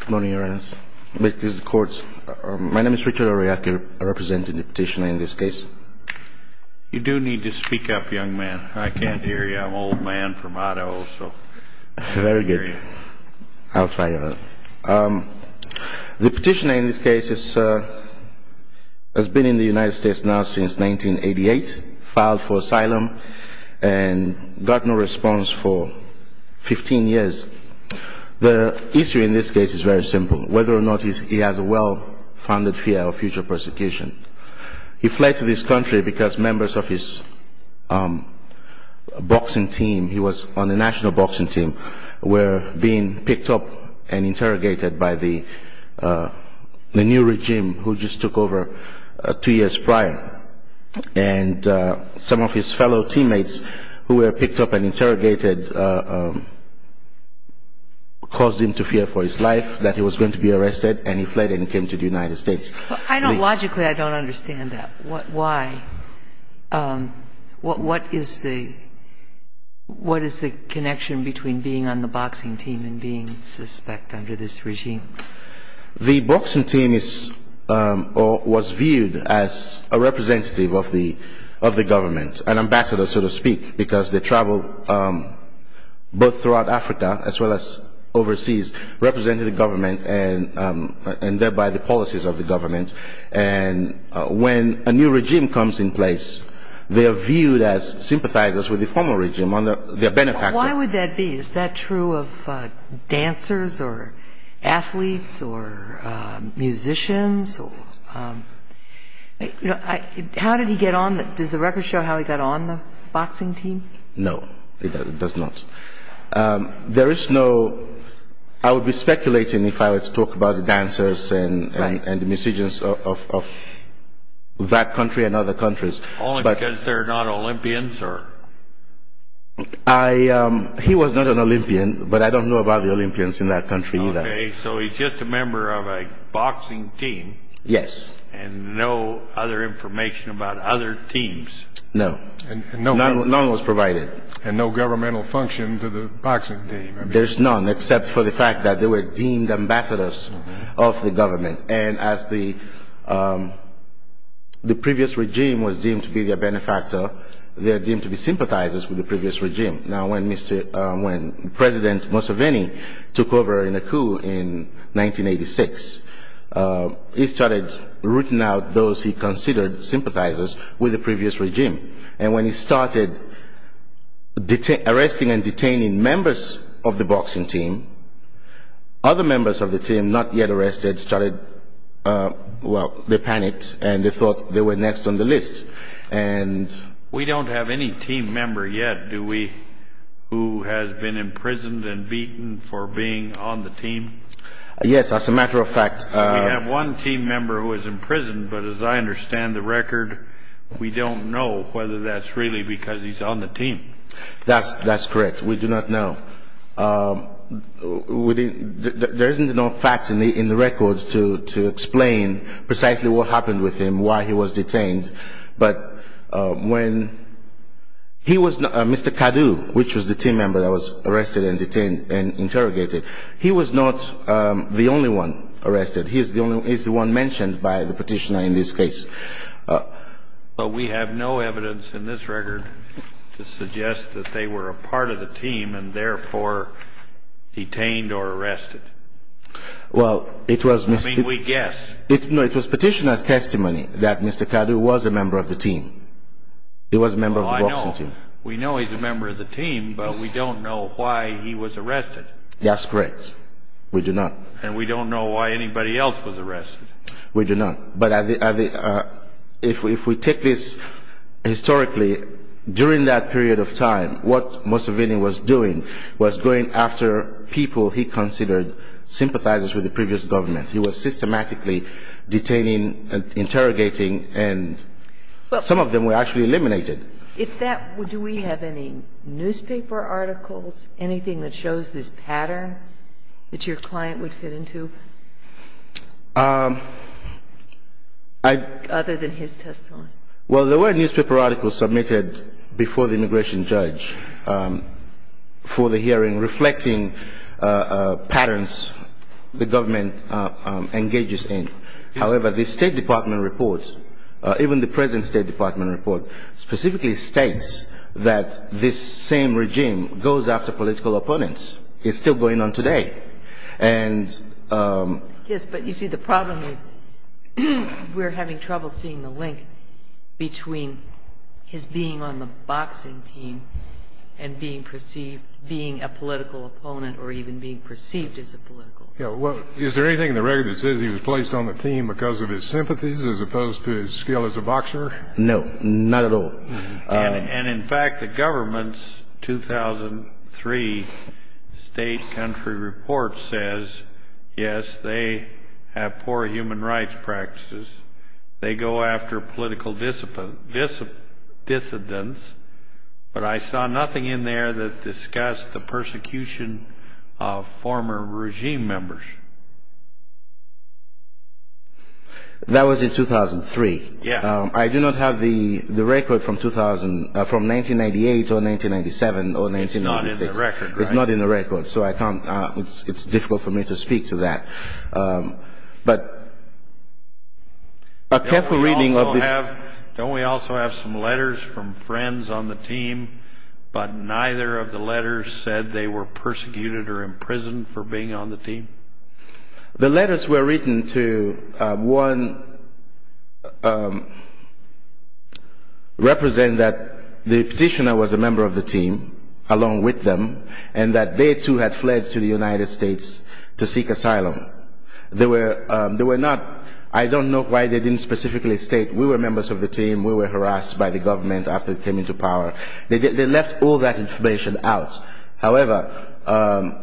Good morning, Your Honor. This is the court. My name is Richard Oryaki. I'm representing the petitioner in this case. You do need to speak up, young man. I can't hear you. I'm an old man from Idaho, so I can't hear you. Very good. I'll try, Your Honor. The petitioner in this case has been in the United States now since 1988, filed for asylum, and got no response for 15 years. The issue in this case is very simple, whether or not he has a well-founded fear of future persecution. He fled to this country because members of his boxing team, he was on the national boxing team, were being picked up and interrogated by the new regime, who just took over two years prior. And some of his fellow teammates who were picked up and interrogated caused him to fear for his life, that he was going to be arrested, and he fled and came to the United States. Logically, I don't understand that. Why? What is the connection between being on the boxing team and being suspect under this regime? The boxing team was viewed as a representative of the government, an ambassador, so to speak, because they traveled both throughout Africa as well as overseas, representing the government, and thereby the policies of the government. And when a new regime comes in place, they are viewed as sympathizers with the former regime. Why would that be? Is that true of dancers or athletes or musicians? How did he get on? Does the record show how he got on the boxing team? No, it does not. There is no – I would be speculating if I were to talk about the dancers and the musicians of that country and other countries. Only because they're not Olympians? He was not an Olympian, but I don't know about the Olympians in that country either. Okay, so he's just a member of a boxing team? Yes. And no other information about other teams? No. None was provided. And no governmental function to the boxing team? There's none, except for the fact that they were deemed ambassadors of the government. And as the previous regime was deemed to be their benefactor, they are deemed to be sympathizers with the previous regime. Now, when President Museveni took over in a coup in 1986, he started rooting out those he considered sympathizers with the previous regime. And when he started arresting and detaining members of the boxing team, other members of the team not yet arrested started – well, they panicked and they thought they were next on the list. We don't have any team member yet, do we, who has been imprisoned and beaten for being on the team? Yes, as a matter of fact – We have one team member who was imprisoned, but as I understand the record, we don't know whether that's really because he's on the team. That's correct. We do not know. There isn't enough facts in the records to explain precisely what happened with him, why he was detained. But when he was – Mr. Kadu, which was the team member that was arrested and detained and interrogated, he was not the only one arrested. He's the one mentioned by the Petitioner in this case. But we have no evidence in this record to suggest that they were a part of the team and therefore detained or arrested. Well, it was – I mean, we guess. No, it was Petitioner's testimony that Mr. Kadu was a member of the team. He was a member of the boxing team. We know he's a member of the team, but we don't know why he was arrested. That's correct. We do not. And we don't know why anybody else was arrested. We do not. But if we take this historically, during that period of time, what Museveni was doing was going after people he considered sympathizers with the previous government. He was systematically detaining and interrogating, and some of them were actually eliminated. If that – do we have any newspaper articles, anything that shows this pattern that your client would fit into? Other than his testimony. Well, there were newspaper articles submitted before the immigration judge for the hearing reflecting patterns the government engages in. However, the State Department report, even the present State Department report, specifically states that this same regime goes after political opponents. It's still going on today. Yes, but you see, the problem is we're having trouble seeing the link between his being on the boxing team and being perceived – being a political opponent or even being perceived as a political opponent. Is there anything in the record that says he was placed on the team because of his sympathies as opposed to his skill as a boxer? No, not at all. And, in fact, the government's 2003 state country report says, yes, they have poor human rights practices. They go after political dissidents, but I saw nothing in there that discussed the persecution of former regime members. That was in 2003? Yes. I do not have the record from 2000 – from 1998 or 1997 or 1996. It's not in the record, right? It's not in the record, so I can't – it's difficult for me to speak to that. But a careful reading of the – Don't we also have some letters from friends on the team, but neither of the letters said they were persecuted or imprisoned for being on the team? The letters were written to, one, represent that the petitioner was a member of the team along with them and that they, too, had fled to the United States to seek asylum. They were not – I don't know why they didn't specifically state, we were members of the team, we were harassed by the government after we came into power. They left all that information out. However,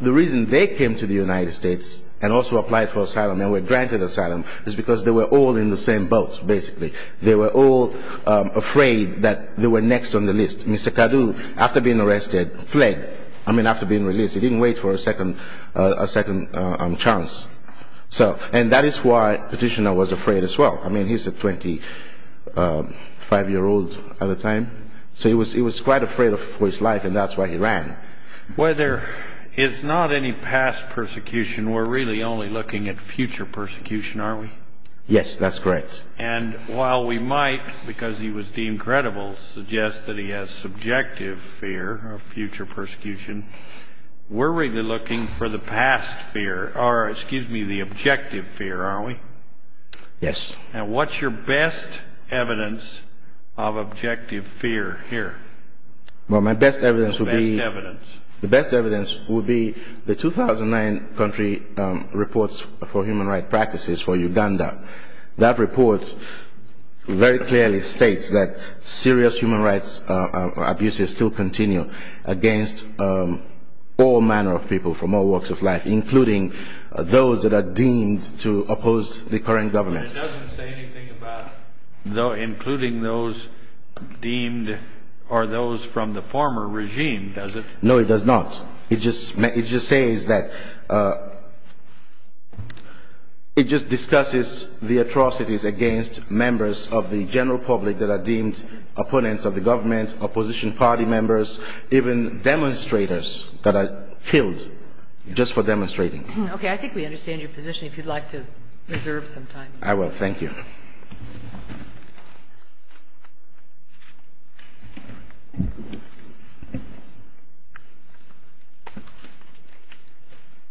the reason they came to the United States and also applied for asylum and were granted asylum is because they were all in the same boat, basically. They were all afraid that they were next on the list. Mr. Kadu, after being arrested, fled. I mean, after being released. He didn't wait for a second chance. And that is why the petitioner was afraid as well. I mean, he's a 25-year-old at the time, so he was quite afraid for his life, and that's why he ran. Well, there is not any past persecution. We're really only looking at future persecution, are we? Yes, that's correct. And while we might, because he was deemed credible, suggest that he has subjective fear of future persecution, we're really looking for the past fear – or, excuse me, the objective fear, are we? Yes. And what's your best evidence of objective fear here? Well, my best evidence would be – The best evidence. The best evidence would be the 2009 country reports for human rights practices for Uganda. That report very clearly states that serious human rights abuses still continue against all manner of people from all walks of life, including those that are deemed to oppose the current government. But it doesn't say anything about including those deemed – or those from the former regime, does it? No, it does not. It just says that – it just discusses the atrocities against members of the general public that are deemed opponents of the government, opposition party members, even demonstrators that are killed just for demonstrating. Okay. I think we understand your position. If you'd like to reserve some time. I will. Thank you.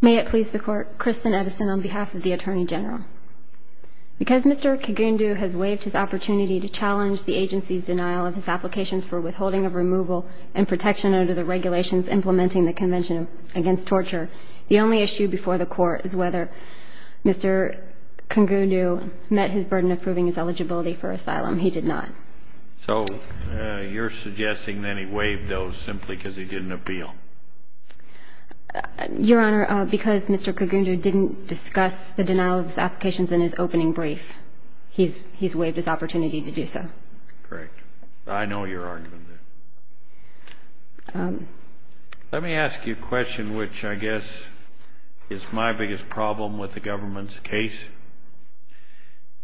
May it please the Court. Kristen Edison on behalf of the Attorney General. Because Mr. Kigundu has waived his opportunity to challenge the agency's denial of his applications for withholding of removal and protection under the regulations implementing the Convention against Torture, the only issue before the Court is whether Mr. Kigundu met his burden of proving his eligibility for asylum. He did not. So you're suggesting that he waived those simply because he didn't appeal? Your Honor, because Mr. Kigundu didn't discuss the denial of his applications in his opening brief, he's waived his opportunity to do so. Correct. I know your argument there. Let me ask you a question which I guess is my biggest problem with the government's case.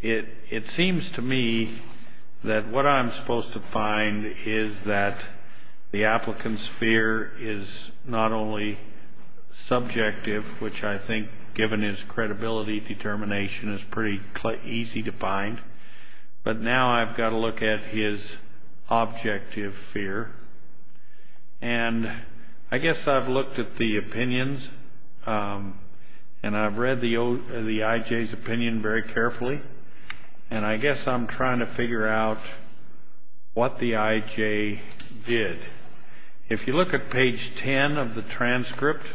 It seems to me that what I'm supposed to find is that the applicant's fear is not only subjective, which I think given his credibility determination is pretty easy to find, but now I've got to look at his objective fear. And I guess I've looked at the opinions and I've read the I.J.'s opinion very carefully, and I guess I'm trying to figure out what the I.J. did. If you look at page 10 of the transcript,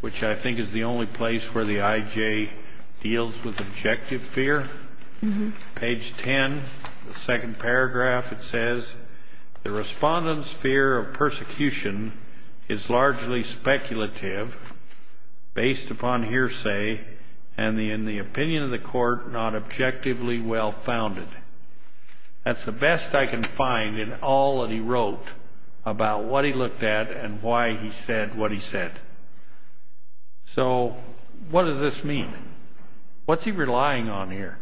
which I think is the only place where the I.J. deals with objective fear, page 10, the second paragraph, it says, the respondent's fear of persecution is largely speculative, based upon hearsay, and in the opinion of the Court, not objectively well-founded. That's the best I can find in all that he wrote about what he looked at and why he said what he said. So what does this mean? What's he relying on here?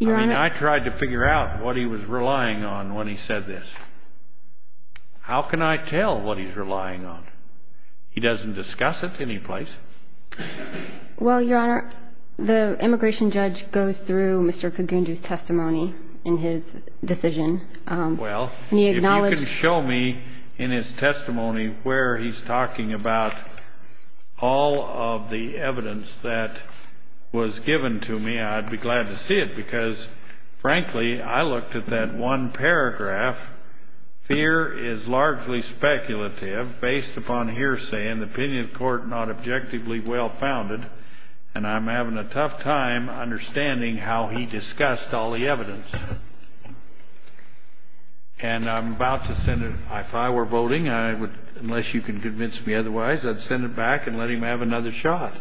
I mean, I tried to figure out what he was relying on when he said this. How can I tell what he's relying on? He doesn't discuss it any place. Well, Your Honor, the immigration judge goes through Mr. Cogundo's testimony in his decision. Well, if you can show me in his testimony where he's talking about all of the evidence that was given to me, I'd be glad to see it because, frankly, I looked at that one paragraph, fear is largely speculative, based upon hearsay, and the opinion of the Court, not objectively well-founded, and I'm having a tough time understanding how he discussed all the evidence. And I'm about to send it, if I were voting, unless you can convince me otherwise, I'd send it back and let him have another shot,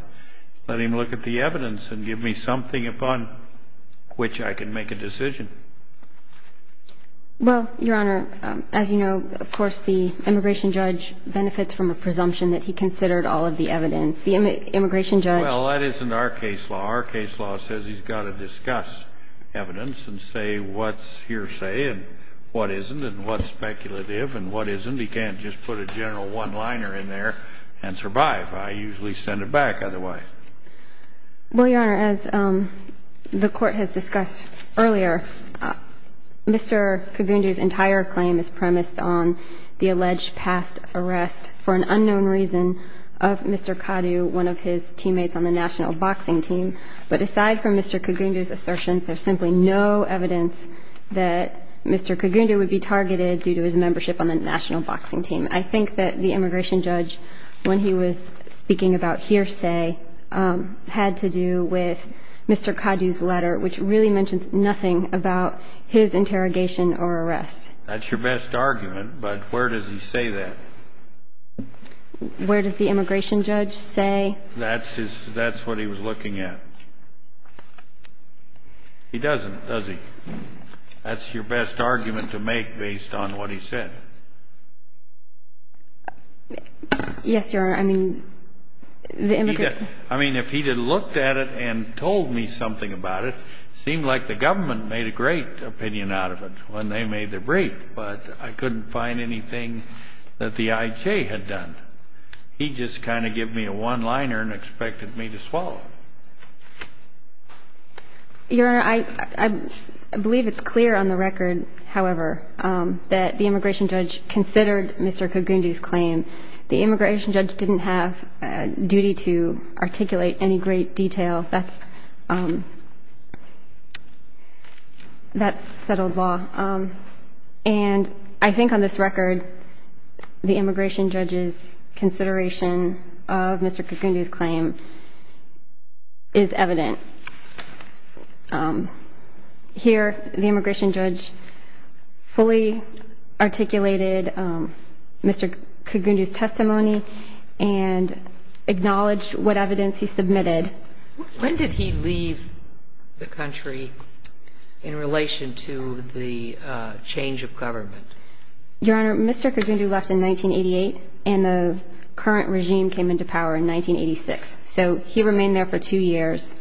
let him look at the evidence and give me something upon which I can make a decision. Well, Your Honor, as you know, of course, the immigration judge benefits from a presumption that he considered all of the evidence. The immigration judge... Well, that isn't our case law. Our case law says he's got to discuss evidence and say what's hearsay and what isn't and what's speculative and what isn't. He can't just put a general one-liner in there and survive. I usually send it back otherwise. Well, Your Honor, as the Court has discussed earlier, Mr. Kagundu's entire claim is premised on the alleged past arrest for an unknown reason of Mr. Kadu, one of his teammates on the national boxing team. But aside from Mr. Kagundu's assertion, there's simply no evidence that Mr. Kagundu would be targeted due to his membership on the national boxing team. I think that the immigration judge, when he was speaking about hearsay, had to do with Mr. Kadu's letter, which really mentions nothing about his interrogation or arrest. That's your best argument, but where does he say that? Where does the immigration judge say? That's what he was looking at. He doesn't, does he? That's your best argument to make based on what he said. Yes, Your Honor, I mean, the immigration judge. I mean, if he had looked at it and told me something about it, it seemed like the government made a great opinion out of it when they made the brief, but I couldn't find anything that the IJ had done. He just kind of gave me a one-liner and expected me to swallow it. Your Honor, I believe it's clear on the record, however, that the immigration judge considered Mr. Kagundu's claim. The immigration judge didn't have a duty to articulate any great detail. That's settled law. And I think on this record, the immigration judge's consideration of Mr. Kagundu's claim is evident. Here, the immigration judge fully articulated Mr. Kagundu's testimony and acknowledged what evidence he submitted. When did he leave the country in relation to the change of government? Your Honor, Mr. Kagundu left in 1988, and the current regime came into power in 1986. So he remained there for two years.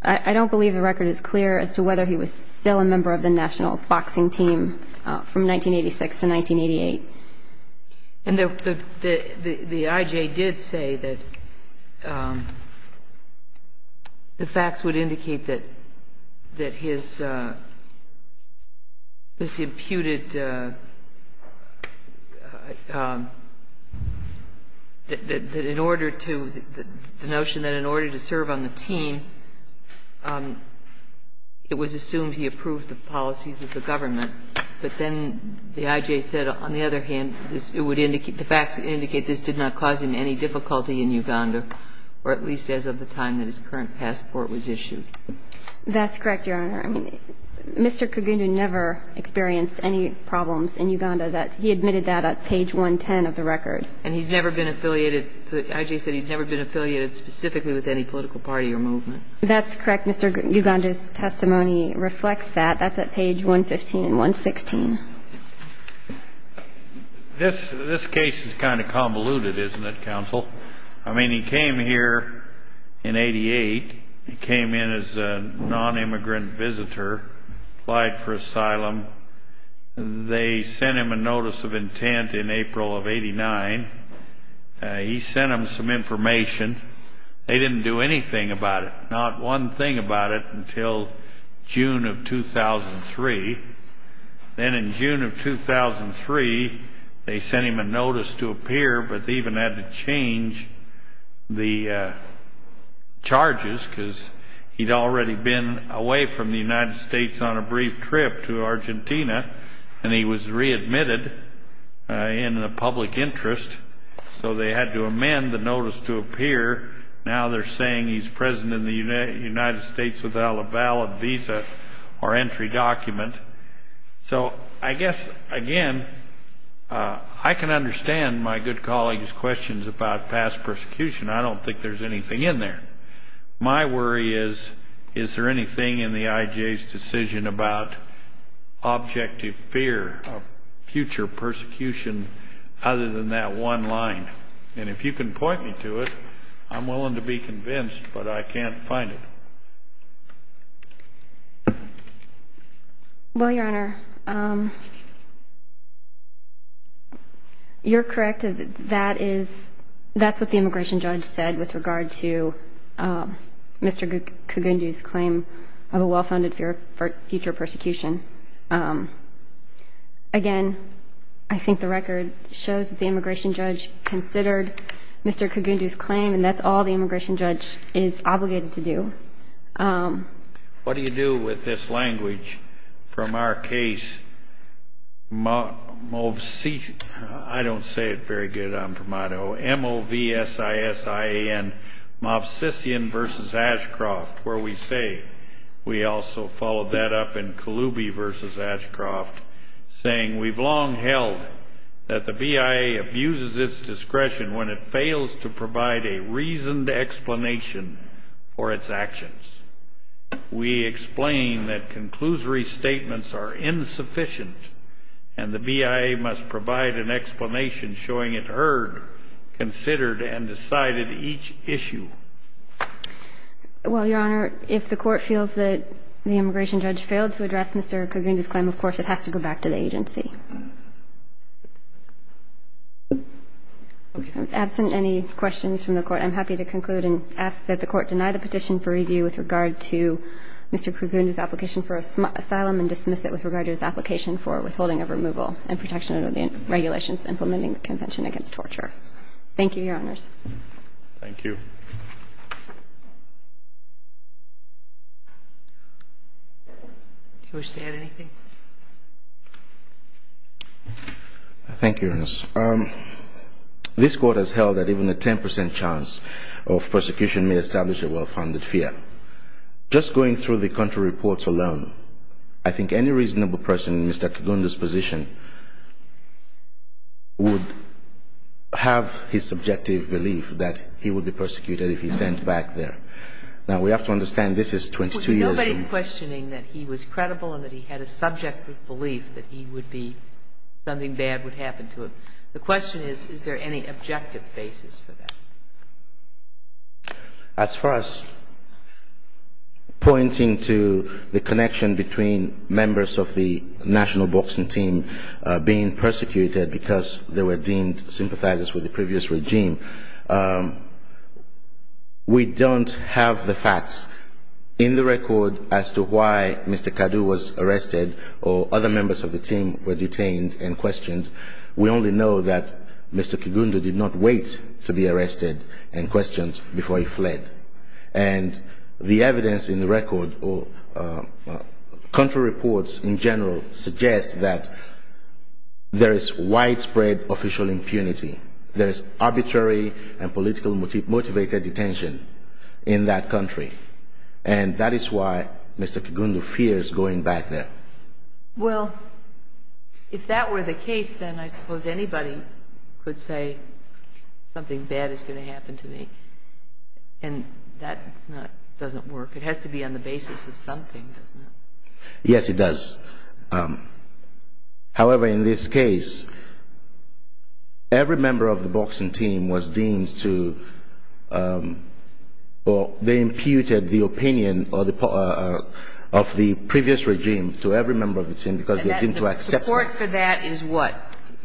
I don't believe the record is clear as to whether he was still a member of the national boxing team from 1986 to 1988. And the IJ did say that the facts would indicate that his, this imputed, that in order to, the notion that in order to serve on the team, it was assumed he approved the policies of the government. But then the IJ said, on the other hand, it would indicate, the facts would indicate this did not cause him any difficulty in Uganda, or at least as of the time that his current passport was issued. That's correct, Your Honor. I mean, Mr. Kagundu never experienced any problems in Uganda. He admitted that at page 110 of the record. And he's never been affiliated, the IJ said he's never been affiliated specifically with any political party or movement. That's correct. Mr. Guganda's testimony reflects that. That's at page 115 and 116. This case is kind of convoluted, isn't it, counsel? I mean, he came here in 88. He came in as a nonimmigrant visitor, applied for asylum. They sent him a notice of intent in April of 89. He sent them some information. They didn't do anything about it, not one thing about it until June of 2003. Then in June of 2003, they sent him a notice to appear, but they even had to change the charges because he'd already been away from the United States on a brief trip to Argentina, and he was readmitted in the public interest. So they had to amend the notice to appear. Now they're saying he's present in the United States without a valid visa or entry document. So I guess, again, I can understand my good colleague's questions about past persecution. I don't think there's anything in there. My worry is, is there anything in the IJ's decision about objective fear of future persecution other than that one line? And if you can point me to it, I'm willing to be convinced, but I can't find it. Well, Your Honor, you're correct. That is what the immigration judge said with regard to Mr. Kogundi's claim of a well-founded fear of future persecution. Again, I think the record shows that the immigration judge considered Mr. Kogundi's claim, and that's all the immigration judge is obligated to do. What do you do with this language from our case, MOVSISIAN versus Ashcroft, where we say we also followed that up in Kaloubi versus Ashcroft, saying we've long held that the BIA abuses its discretion when it fails to provide a reasoned explanation for its actions. We explain that conclusory statements are insufficient, and the BIA must provide an explanation showing it heard, considered, and decided each issue. Well, Your Honor, if the Court feels that the immigration judge failed to address Mr. Kogundi's claim, of course it has to go back to the agency. Absent any questions from the Court, I'm happy to conclude and ask that the Court deny the petition for review with regard to Mr. Kogundi's application for asylum and dismiss it with regard to his application for withholding of removal and protection under the regulations implementing the Convention Against Torture. Thank you, Your Honors. Thank you. Do you wish to add anything? Thank you, Your Honor. This Court has held that even a 10 percent chance of persecution may establish a well-founded fear. Just going through the country reports alone, I think any reasonable person in Mr. Kogundi's position would have his subjective belief that he would be persecuted if he's sent back there. Now, we have to understand this is 22 years ago. Nobody's questioning that he was credible and that he had a subjective belief that he would be, something bad would happen to him. The question is, is there any objective basis for that? As far as pointing to the connection between members of the national boxing team being persecuted because they were deemed sympathizers with the previous regime, we don't have the facts in the record as to why Mr. Kadu was arrested or other members of the team were detained and questioned. We only know that Mr. Kogundi did not wait to be arrested and questioned before he fled. And the evidence in the record or country reports in general suggest that there is widespread official impunity. There is arbitrary and politically motivated detention in that country. And that is why Mr. Kogundi fears going back there. Well, if that were the case, then I suppose anybody could say something bad is going to happen to me. And that doesn't work. It has to be on the basis of something, doesn't it? Yes, it does. However, in this case, every member of the boxing team was deemed to, or they imputed the opinion of the previous regime to every member of the team because they deemed to accept it. And the support for that is what?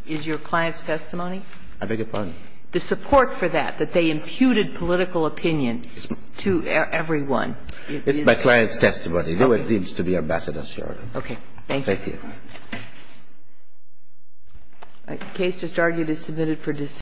Is your client's testimony? I beg your pardon? The support for that, that they imputed political opinion to everyone. It's my client's testimony. They were deemed to be ambassadors here. Okay. Thank you. Thank you.